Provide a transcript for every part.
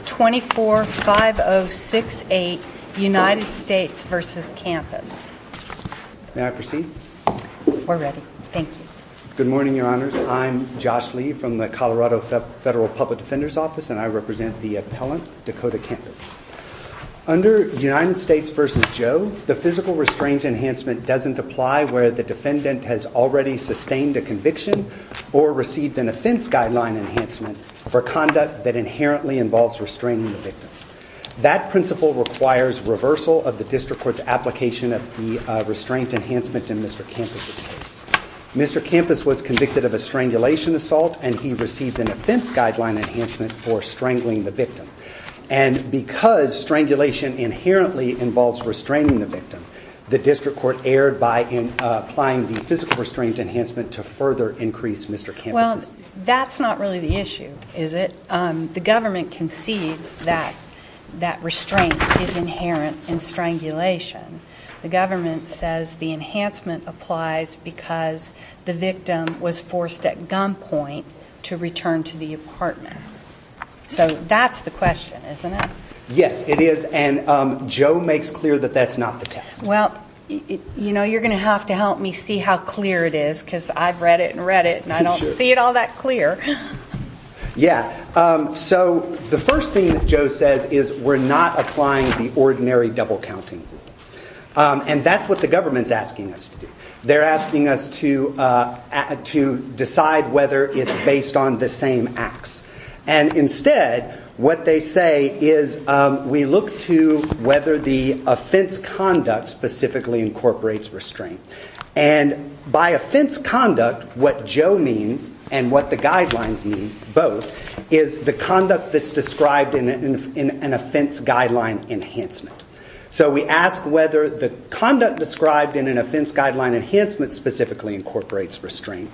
24-5068 United States v. Campus. May I proceed? We're ready. Thank you. Good morning, Your Honors. I'm Josh Lee from the Colorado Federal Public Defender's Office and I represent the appellant, Dakota Campus. Under United States v. Joe, the physical restraint enhancement doesn't apply where the defendant has already sustained a conviction or received an offense guideline enhancement for conduct that inherently involves restraining the victim. That principle requires reversal of the district court's application of the restraint enhancement in Mr. Campus's case. Mr. Campus was convicted of a strangulation assault and he received an offense guideline enhancement for strangling the victim. And because strangulation inherently involves restraining the victim, the district court erred by applying the physical restraint enhancement to further increase Mr. Campus's... Well, that's not really the issue, is it? The government concedes that that restraint is inherent in strangulation. The government says the enhancement applies because the victim was forced at gunpoint to return to the apartment. So that's the question, isn't it? Yes, it is. And Joe makes clear that that's not the test. Well, you know, you're going to have to help me see how clear it is because I've read it and read it and I don't see it all that clear. Yeah. So the first thing that Joe says is we're not applying the ordinary double counting rule. And that's what the government's asking us to do. They're asking us to decide whether it's based on the same acts. And instead, what they say is we look to whether the offense conduct specifically incorporates restraint. And by offense conduct, what Joe means and what the guidelines mean, both, is the conduct that's described in an offense guideline enhancement. So we ask whether the conduct described in an offense guideline enhancement specifically incorporates restraint.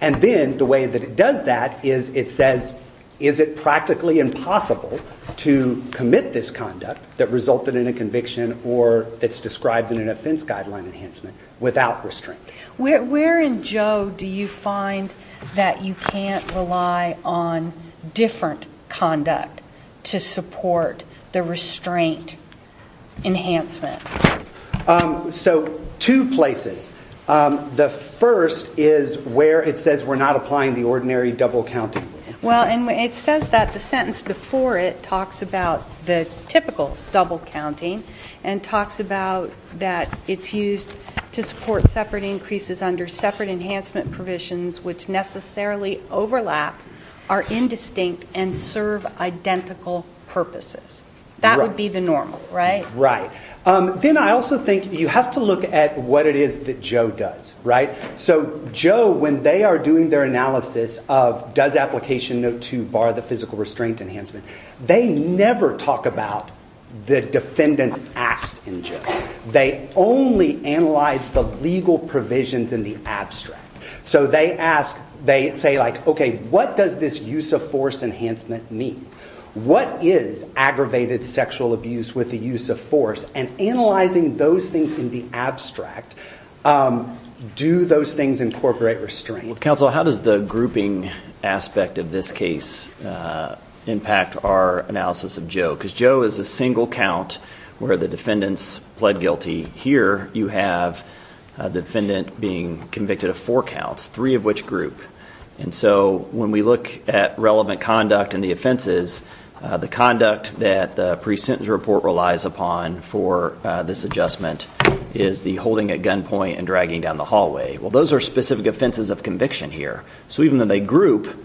And then the way that it does that is it says, is it practically impossible to commit this conduct that resulted in a conviction or that's described in an offense guideline enhancement without restraint. Where in Joe do you find that you can't rely on different conduct to support the restraint enhancement? So two places. The first is where it says we're not applying the ordinary double counting rule. Well, and it says that the sentence before it talks about the typical double counting and talks about that it's used to support separate increases under separate enhancement provisions which necessarily overlap, are indistinct, and serve identical purposes. That would be the normal, right? Right. Then I also think you have to look at what it is that Joe does, right? So Joe, when they are doing their analysis of does application note 2 bar the physical restraint enhancement, they never talk about the defendant's acts in jail. They only analyze the legal provisions in the abstract. So they ask, they say like, okay, what does this use of force enhancement mean? What is aggravated sexual abuse with the use of force? And analyzing those things in the abstract, do those things incorporate restraint? Counsel, how does the grouping aspect of this case impact our analysis of Joe? Because Joe is a single count where the defendants pled guilty. Here you have the defendant being convicted of four counts, three of which group. And so when we look at relevant conduct and the offenses, the conduct that the pre-sentence report relies upon for this adjustment is the holding at point and dragging down the hallway. Well, those are specific offenses of conviction here. So even though they group,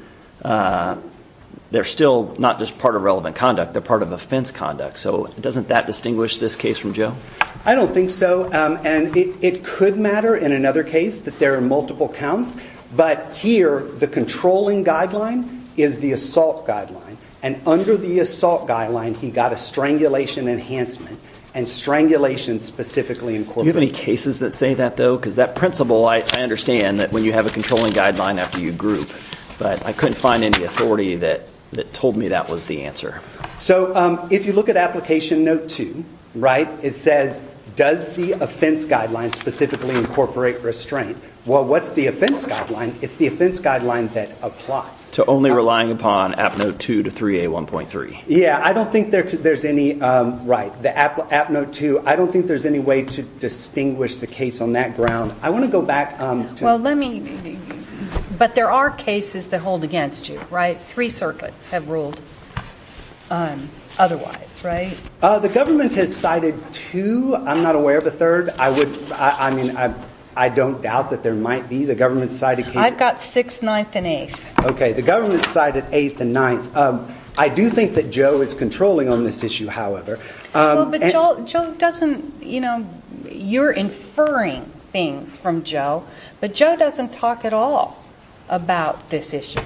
they're still not just part of relevant conduct. They're part of offense conduct. So doesn't that distinguish this case from jail? I don't think so. And it could matter in another case that there are multiple counts. But here, the controlling guideline is the assault guideline. And under the assault guideline, he got a strangulation enhancement and strangulation specifically incorporated. Do you have any cases that say that though? Because that principle, I understand that when you have a controlling guideline after you group. But I couldn't find any authority that told me that was the answer. So if you look at application note two, right, it says, does the offense guideline specifically incorporate restraint? Well, what's the offense guideline? It's the offense guideline that applies. To only relying upon app note two to 3A1.3. Yeah, I don't think there's any, right, the on that ground. I want to go back. Well, let me, but there are cases that hold against you, right? Three circuits have ruled otherwise, right? The government has cited two. I'm not aware of a third. I would, I mean, I don't doubt that there might be. The government cited case. I've got six, ninth, and eighth. Okay, the government cited eighth and ninth. I do think that Joe is controlling on this issue, however. Joe doesn't, you know, you're inferring things from Joe, but Joe doesn't talk at all about this issue.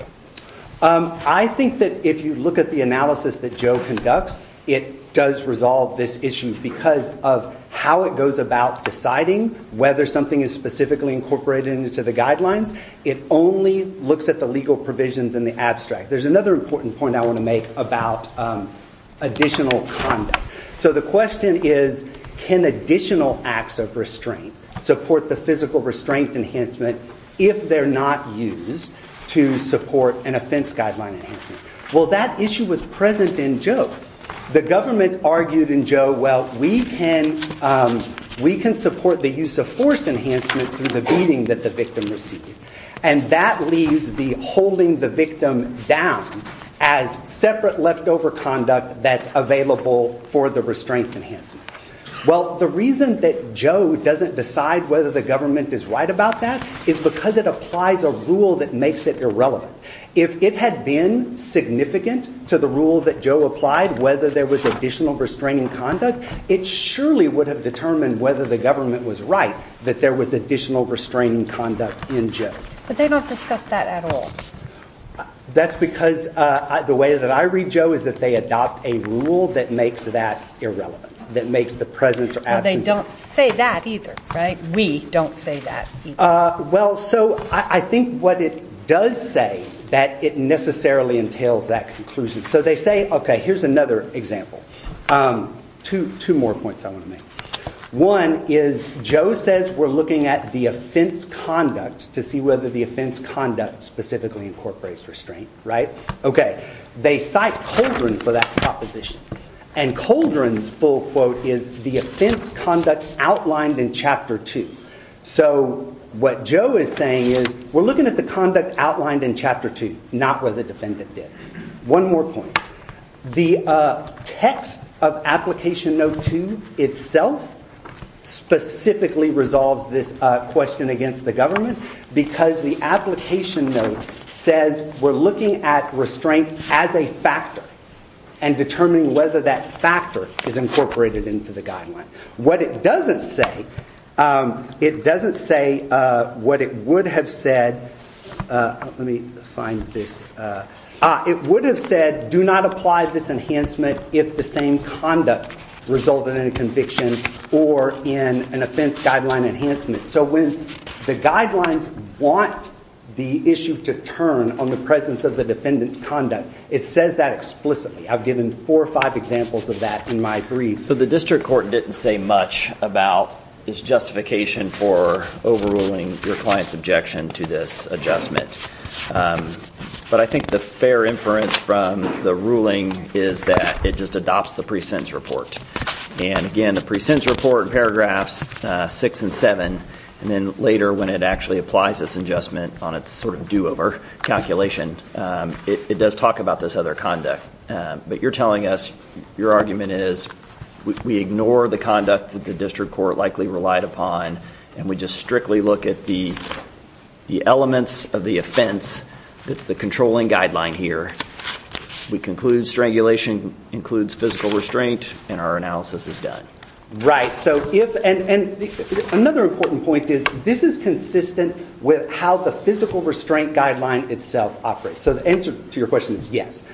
I think that if you look at the analysis that Joe conducts, it does resolve this issue because of how it goes about deciding whether something is specifically incorporated into the guidelines. It only looks at the legal provisions in the abstract. There's another important point I want to make about additional conduct. So the question is, can additional acts of restraint support the physical restraint enhancement if they're not used to support an offense guideline enhancement? Well, that issue was present in Joe. The government argued in Joe, well, we can, we can support the use of force enhancement through the beating that the victim received. And that leaves the holding the victim down as separate leftover conduct that's available for the restraint enhancement. Well, the reason that Joe doesn't decide whether the government is right about that is because it applies a rule that makes it irrelevant. If it had been significant to the rule that Joe applied, whether there was additional restraining conduct, it surely would have determined whether the government was right that there was additional restraining conduct in Joe. But they don't discuss that at all. That's because the way that I read Joe is that they adopt a rule that makes that irrelevant, that makes the presence or absence. They don't say that either, right? We don't say that. Well, so I think what it does say that it necessarily entails that conclusion. So they say, okay, here's another example. Two more points I want to make. One is Joe says we're looking at the offense conduct to see whether the offense conduct specifically incorporates restraint, right? Okay, they cite Coldren for that proposition. And Coldren's full quote is, the offense conduct outlined in Chapter 2. So what Joe is saying is, we're looking at the conduct outlined in Chapter 2, not where the defendant did. One more point. The text of Application Note 2 itself specifically resolves this question against the government because the application note says we're looking at restraint as a factor and determining whether that factor is incorporated into the guideline. What it doesn't say, it doesn't say what it would have said. Let me find this. It would have said, do not apply this enhancement if the same conduct resulted in a conviction or in an offense guideline enhancement. So when the guidelines want the issue to turn on the presence of the defendant's conduct, it says that explicitly. I've given four or five examples of that in my brief. So the district court didn't say much about its justification for overruling your client's objection to this adjustment. But I think the fair inference from the ruling is that it just adopts the pre-sentence report. And again, the pre-sentence report, paragraphs six and seven, and then later when it actually applies this adjustment on its sort of do-over calculation, it does talk about this other conduct. But you're telling us your argument is, we ignore the conduct that the district court likely relied upon and we just strictly look at the elements of the offense that's the controlling guideline here. We conclude strangulation includes physical restraint and our analysis is done. Right. So if, and another important point is this is consistent with how the physical restraint guideline itself operates. So the answer to your question is yes.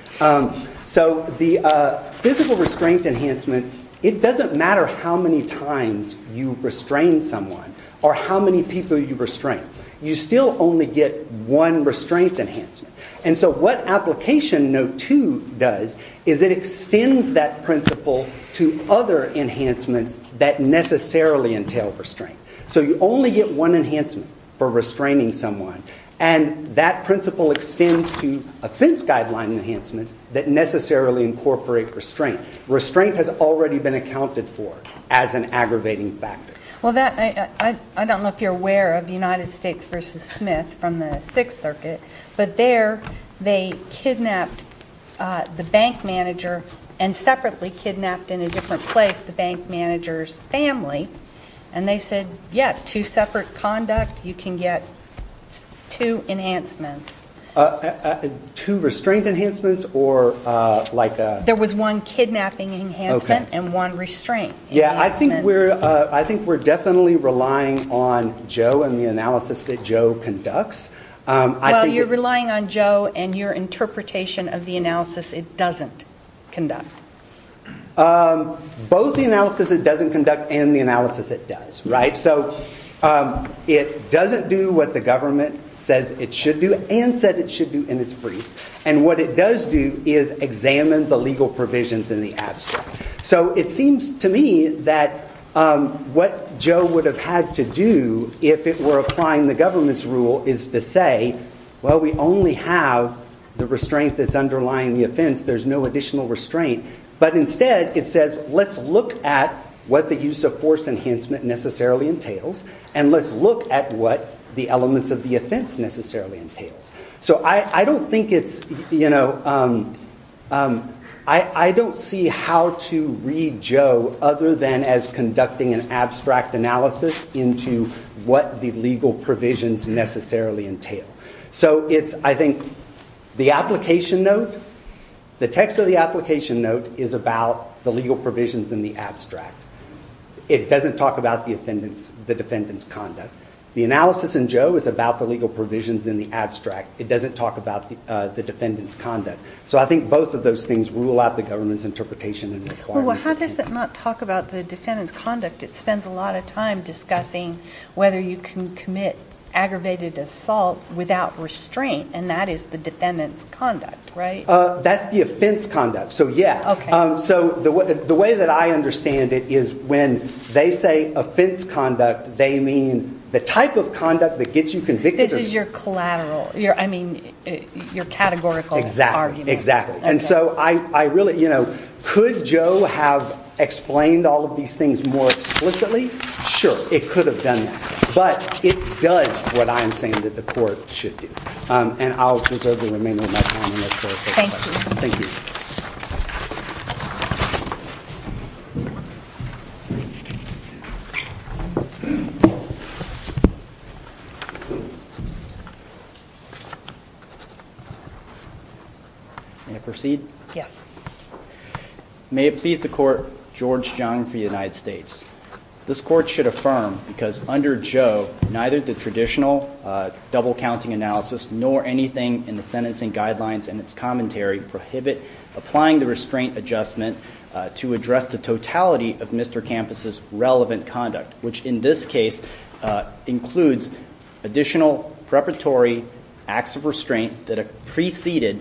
So the physical restraint enhancement, it doesn't matter how many times you restrain someone or how many people you restrain. You still only get one restraint enhancement. And so what application note two does is it extends that principle to other enhancements that necessarily entail restraint. So you only get one enhancement for restraining someone and that principle extends to offense guideline enhancements that necessarily incorporate restraint. Restraint has already been accounted for as an aggravating factor. Well that, I don't know if you're aware of the United States versus Smith from the Sixth Circuit. But there they kidnapped the bank manager and separately kidnapped in a different place the bank manager's family. And they said yeah two separate conduct you can get two enhancements. Two restraint enhancements or like. There was one kidnapping enhancement and one restraint. Yeah I think we're I think we're definitely relying on Joe and the analysis that Joe conducts. Well you're relying on Joe and your interpretation of the analysis it doesn't conduct. Both the analysis it doesn't conduct and the analysis it does right. So it doesn't do what the government says it should do and said it should do in its briefs. And what it does do is examine the legal provisions in the abstract. So it seems to me that what Joe would have had to do if it were applying the government's rule is to say well we only have the restraint that's underlying the offense there's no additional restraint. But instead it says let's look at what the use of force enhancement necessarily entails and let's look at what the elements of the offense necessarily entails. So I I don't think it's you know I I don't see how to read Joe other than as conducting an abstract analysis into what the legal provisions necessarily entail. So it's I think the application note the text of the application note is about the legal provisions in the abstract. It doesn't talk about the defendants the defendant's conduct. The analysis in Joe is about the legal provisions in the abstract. It doesn't talk about the defendant's conduct. So I think both of those things rule out the government's interpretation and How does it not talk about the defendant's conduct? It spends a lot of time discussing whether you can commit aggravated assault without restraint and that is the defendant's conduct, right? That's the offense conduct. So yeah. So the way that I understand it is when they say offense conduct they mean the type of conduct that gets you convicted. This is your collateral. I mean your have explained all of these things more explicitly. Sure, it could have done that, but it does what I'm saying that the court should do. And I'll conserve the remainder of my time unless the court takes questions. Thank you. Thank you. May I proceed? Yes. May it please the court, George Jung for the United States. This court should affirm because under Joe neither the traditional double counting analysis nor anything in the sentencing guidelines and its commentary prohibit applying the restraint adjustment to address the totality of Mr. Kampus's relevant conduct, which in this case includes additional preparatory acts of restraint that are preceded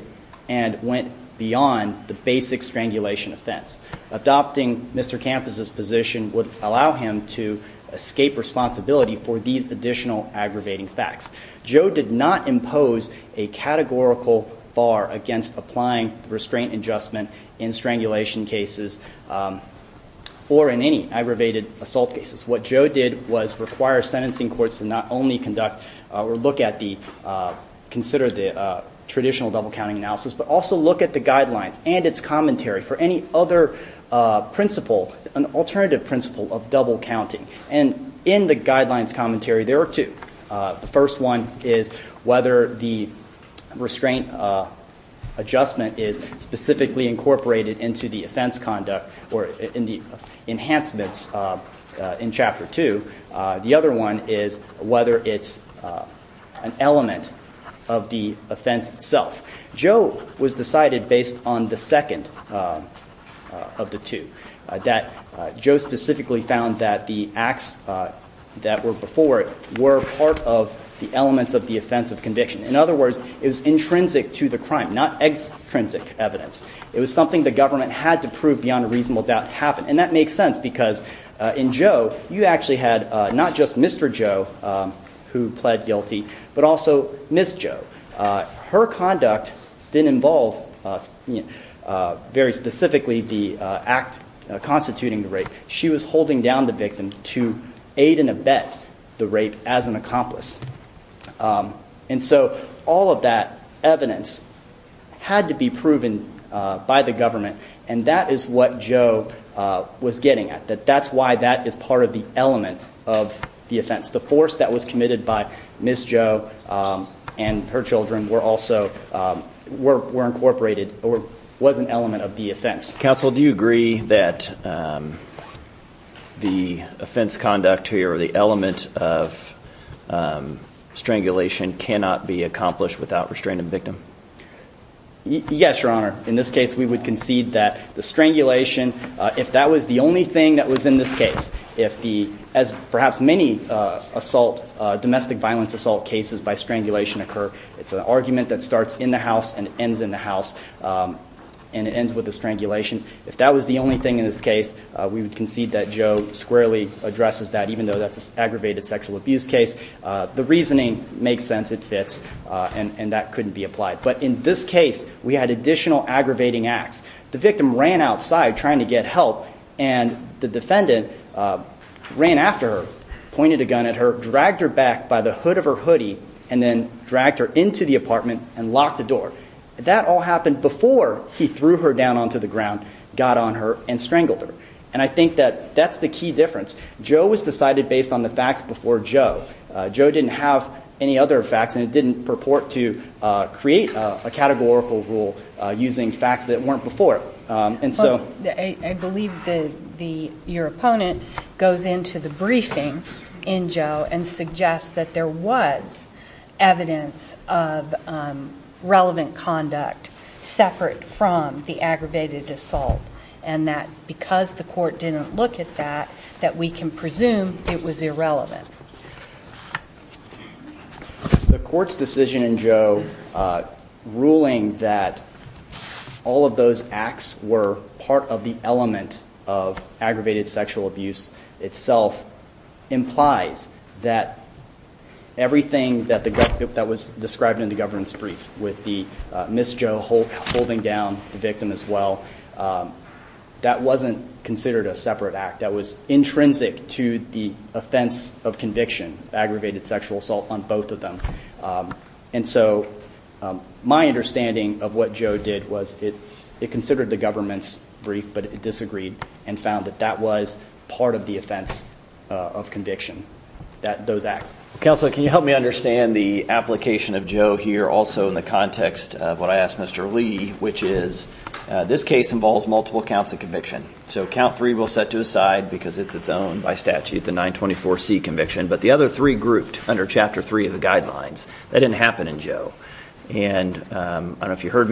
and went beyond the basic strangulation offense. Adopting Mr. Kampus's position would allow him to escape responsibility for these additional aggravating facts. Joe did not impose a categorical bar against applying restraint adjustment in strangulation cases or in any aggravated assault cases. What Joe did was require sentencing courts to not only conduct or look at the, consider the traditional double counting analysis, but also look at the guidelines and its commentary for any other principle, an alternative principle of double counting. And in the guidelines commentary, there are two. The first one is whether the restraint adjustment is specifically incorporated into the offense conduct or in the enhancements in chapter two. The other one is whether it's an element of the offense itself. Joe was decided based on the second of the two, that Joe specifically found that the acts that were before were part of the elements of the offense of conviction. In other words, it was intrinsic to the crime, not extrinsic evidence. It was something the government had to prove beyond a reasonable doubt to happen. And that makes sense because in Joe, you actually had not just Mr. Joe who pled guilty, but also Ms. Joe. Her conduct didn't involve very specifically the act constituting the rape. She was holding down the victim to aid and abet the rape as an accomplice. And so all of that evidence had to be proven by the government. And that is what Joe was getting at. That's why that is part of the element of the offense. The force that was incorporated was an element of the offense. Counsel, do you agree that the offense conduct or the element of strangulation cannot be accomplished without restraining the victim? Yes, your honor. In this case, we would concede that the strangulation, if that was the only thing that was in this case, if the, as perhaps many assault, domestic violence assault cases by strangulation occur, it's an argument that starts in the house and ends in the house. And it ends with a strangulation. If that was the only thing in this case, we would concede that Joe squarely addresses that, even though that's an aggravated sexual abuse case. The reasoning makes sense. It fits. And that couldn't be applied. But in this case, we had additional aggravating acts. The victim ran outside trying to get help. And the defendant ran after her, pointed a gun at her, dragged her back by the hood of her hoodie, and then dragged her into the apartment and locked the door. That all happened before he threw her down onto the ground, got on her, and strangled her. And I think that that's the key difference. Joe was decided based on the facts before Joe. Joe didn't have any other facts, and it didn't purport to create a categorical rule using facts that weren't before. And that doesn't suggest that there was evidence of relevant conduct separate from the aggravated assault. And that because the court didn't look at that, that we can presume it was irrelevant. The court's decision in Joe ruling that all of those acts were part of the aggravated sexual abuse itself implies that everything that was described in the governance brief with the Ms. Joe holding down the victim as well, that wasn't considered a separate act. That was intrinsic to the offense of conviction, aggravated sexual assault, on both of them. And so my understanding of what Joe did was it considered the governance brief, but it disagreed and found that that was part of the offense of conviction, those acts. Counselor, can you help me understand the application of Joe here also in the context of what I asked Mr. Lee, which is this case involves multiple counts of conviction. So count three we'll set to aside because it's its own by statute, the 924C conviction. But the other three grouped under Chapter 3 of the Act. So I'm going to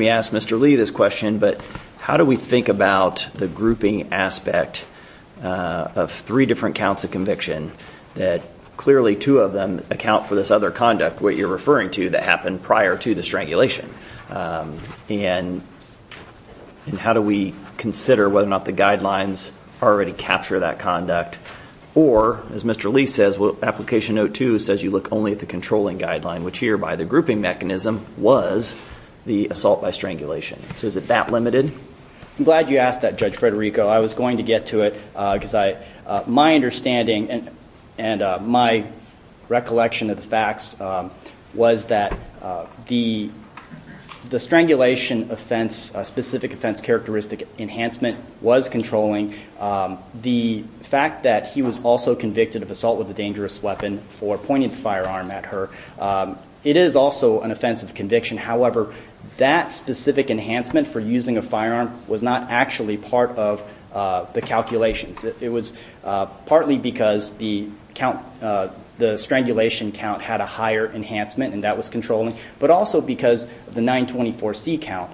ask Mr. Lee this question, but how do we think about the grouping aspect of three different counts of conviction that clearly two of them account for this other conduct, what you're referring to, that happened prior to the strangulation? And how do we consider whether or not the guidelines already capture that conduct? Or as Mr. Lee says, well, application note two says you look only at the controlling guideline, which here by the So is it that limited? I'm glad you asked that, Judge Federico. I was going to get to it because my understanding and my recollection of the facts was that the strangulation offense, specific offense characteristic enhancement was controlling. The fact that he was also convicted of assault with a dangerous weapon for pointing the firearm at her, it is also an offense of conviction. However, that specific enhancement for using a firearm was not actually part of the calculations. It was partly because the count, the strangulation count had a higher enhancement and that was controlling, but also because the 924C count,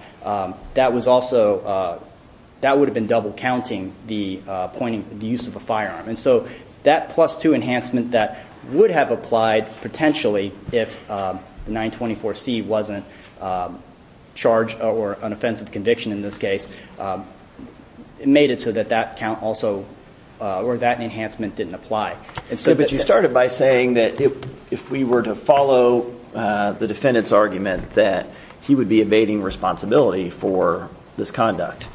that was also, that would have been double counting the pointing, the use of a firearm. And so that plus two enhancement that would have applied potentially if 924C wasn't charged or an offense of conviction in this case, it made it so that that count also, or that enhancement didn't apply. But you started by saying that if we were to follow the defendant's argument that he would be evading responsibility for this conduct,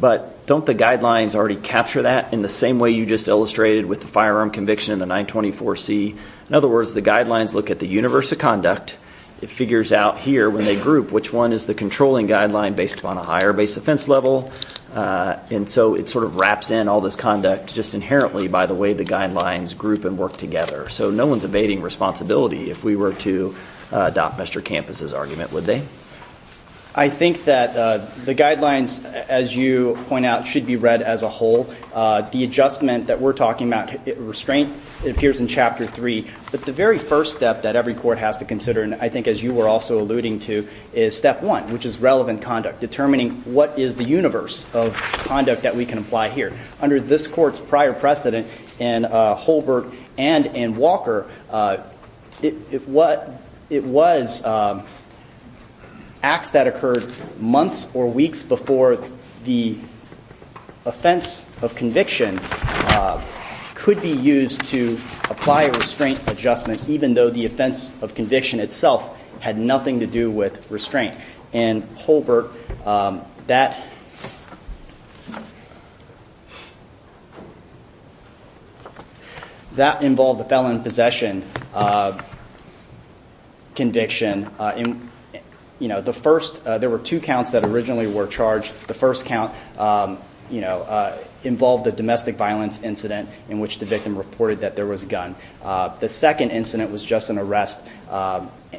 but don't the guidelines already capture that in the same way you just illustrated with the firearm conviction in the 924C? In other words, the guidelines look at the universe of conduct, it figures out here when they group which one is the controlling guideline based upon a higher base offense level, and so it sort of wraps in all this conduct just inherently by the way the guidelines group and work together. So no one's evading responsibility if we were to adopt Mr. Campos's argument, would they? I think that the guidelines, as you point out, should be read as a whole. The adjustment that we're talking about, restraint, appears in Chapter 3. But the very first step that every court has to consider, and I think as you were also alluding to, is step one, which is relevant conduct. Determining what is the universe of conduct that we can apply here. Under this court's prior precedent in Holberg and in Walker, if what it was acts that occurred months or weeks before the offense of conviction could be used to apply a restraint adjustment even though the offense of conviction itself had nothing to do with restraint. In Holberg, that involved the violent possession conviction. There were two counts that originally were charged. The first count involved a domestic violence incident in which the victim reported that there was a gun. The second incident was just an arrest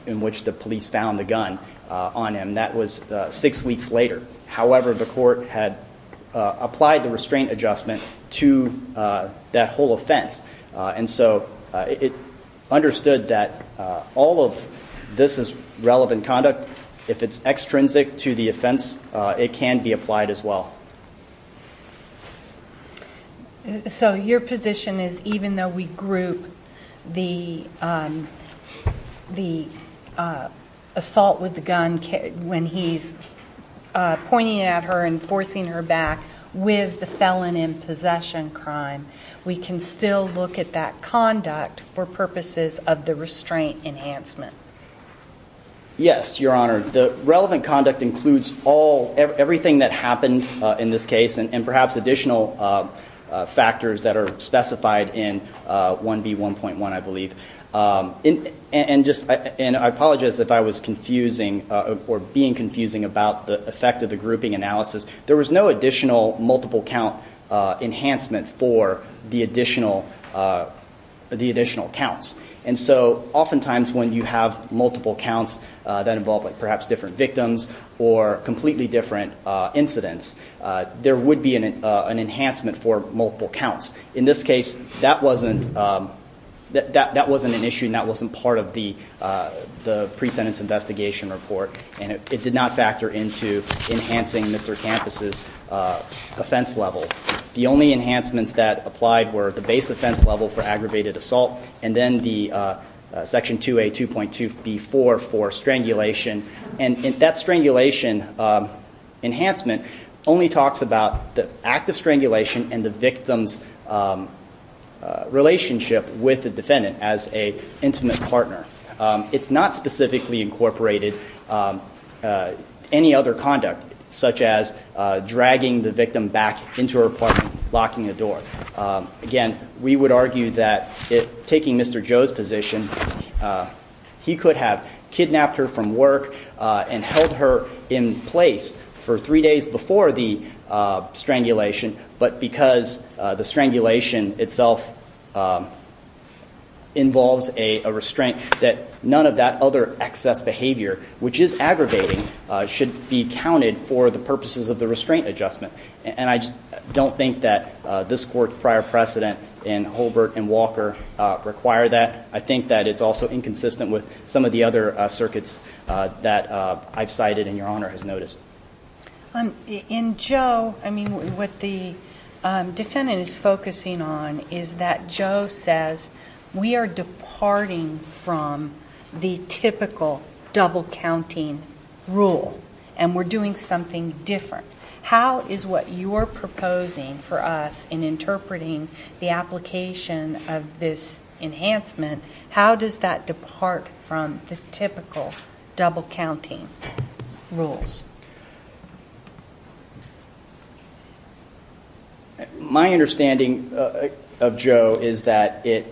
in which the police found a gun on him. That was six weeks later. However, the court had applied the restraint adjustment to that whole offense. And so it understood that all of this is relevant conduct. If it's extrinsic to the offense, it can be applied as well. So your position is even though we group the assault with the gun when he's pointing at her and forcing her back with the felon in possession crime, we can still look at that conduct for purposes of the restraint enhancement? Yes, Your Honor. The relevant conduct includes everything that happened in this case and perhaps additional factors that are specified in 1B1.1, I believe. And I apologize if I was confusing or being confusing about the effect of the grouping analysis. There was no additional multiple count enhancement for the additional counts. And so oftentimes when you have multiple counts that involve perhaps different victims or completely different incidents, there would be an enhancement for multiple counts. In this case, that wasn't an issue and that wasn't part of the pre-sentence investigation report. And it did not factor into enhancing Mr. Campos' offense level. The only enhancements that applied were the base offense level for aggravated assault and then the Section 2A2.2B4 for strangulation. And that strangulation enhancement only talks about the act of strangulation and the victim's relationship with the defendant as an intimate partner. It's not specifically incorporated any other conduct such as dragging the victim back into her apartment, locking the door. Again, we would argue that taking Mr. Joe's position, he could have kidnapped her from work and held her in place for three days before the strangulation. But because the strangulation itself involves a restraint that none of that other excess behavior, which is aggravating, should be counted for the purposes of the restraint adjustment. And I just don't think that this Court's prior precedent in Holbert and Walker require that. I think that it's also inconsistent with some of the other circuits that I've cited and Your Honor has noticed. In Joe, I mean, what the defendant is focusing on is that Joe says we are departing from the typical double counting rule and we're doing something different. How is what you're proposing for us in interpreting the application of this enhancement, how does that depart from the typical double counting rules? My understanding of Joe is that it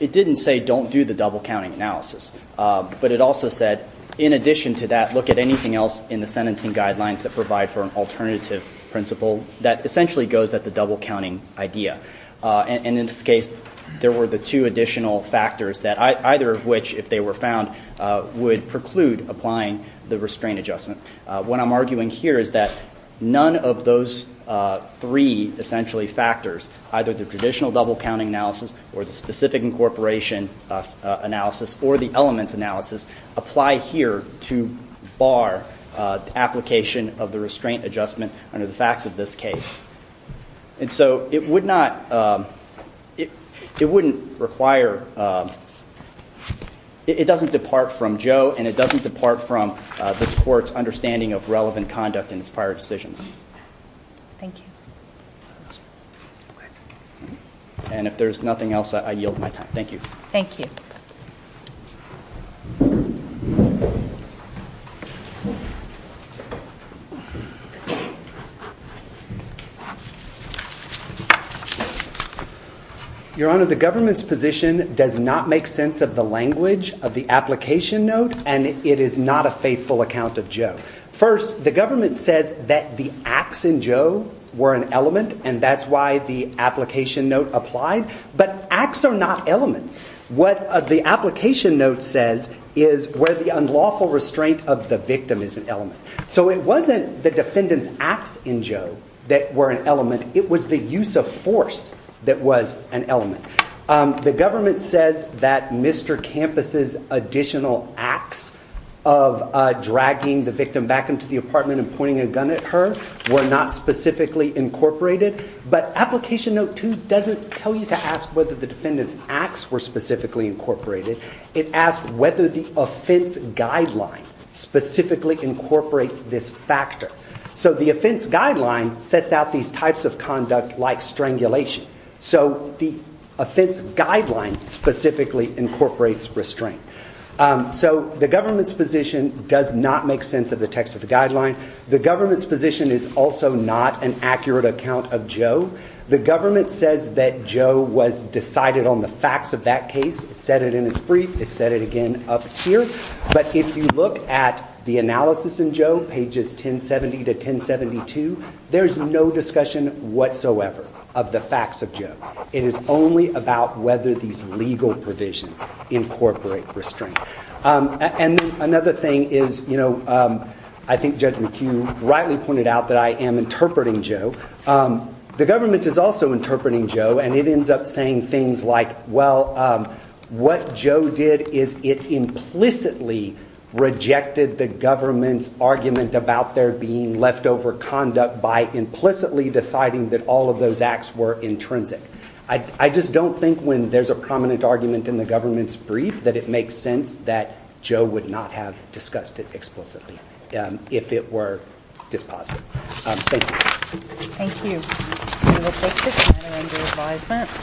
didn't say don't do the double counting analysis. But it also said in addition to that, look at anything else in the sentencing guidelines that provide for an alternative principle that essentially goes at the double counting idea. And in this case, there were the two additional factors that either of which, if they were found, would preclude applying the restraint adjustment. What I'm arguing here is that none of those three essentially factors, either the traditional double counting analysis or the specific incorporation analysis or the elements analysis, apply here to bar application of the restraint adjustment under the facts of this case. And so it would not, it wouldn't require, it doesn't depart from Joe and it doesn't depart from this court's understanding of relevant conduct in its prior decisions. Thank you. And if there's nothing else, I yield my time. Thank you. Your Honor, the government's position does not make sense of the language of the application note and it is not a faithful account of Joe. First, the government says that the acts in Joe were an element and that's why the application note applied. But acts are not elements. What the application note says is where the unlawful restraint of the victim is an element. So it wasn't the defendant's acts in Joe that were an element. It was the use of force that was an element. The government says that Mr. Campos's additional acts of dragging the victim back into the apartment and pointing a gun at her were not specifically incorporated. But application note 2 doesn't tell you to ask whether the defendant's acts were specifically incorporated. It asked whether the offense guideline specifically incorporates this factor. So the offense guideline sets out these types of conduct like strangulation. So the offense guideline specifically incorporates restraint. So the government's position does not make sense of the text of the guideline. The government's position is also not an accurate account of Joe. The government says that Joe was decided on the facts of that case. It said it in its brief. It said it again up here. But if you look at the analysis in Joe, pages 1070 to 1072, there is no discussion whatsoever of the facts of Joe. It is only about whether these legal provisions incorporate restraint. And another thing is, you know, I think Judge McHugh rightly pointed out that I am interpreting Joe. The government is also interpreting Joe and it ends up saying things like, well what Joe did is it implicitly rejected the government's argument about there being leftover conduct by implicitly deciding that all of those acts were intrinsic. I just don't think when there's a prominent argument in the government's brief that it makes sense that Joe would not have discussed it explicitly if it were dispositive. Thank you. Thank you. We will take this matter under advisement.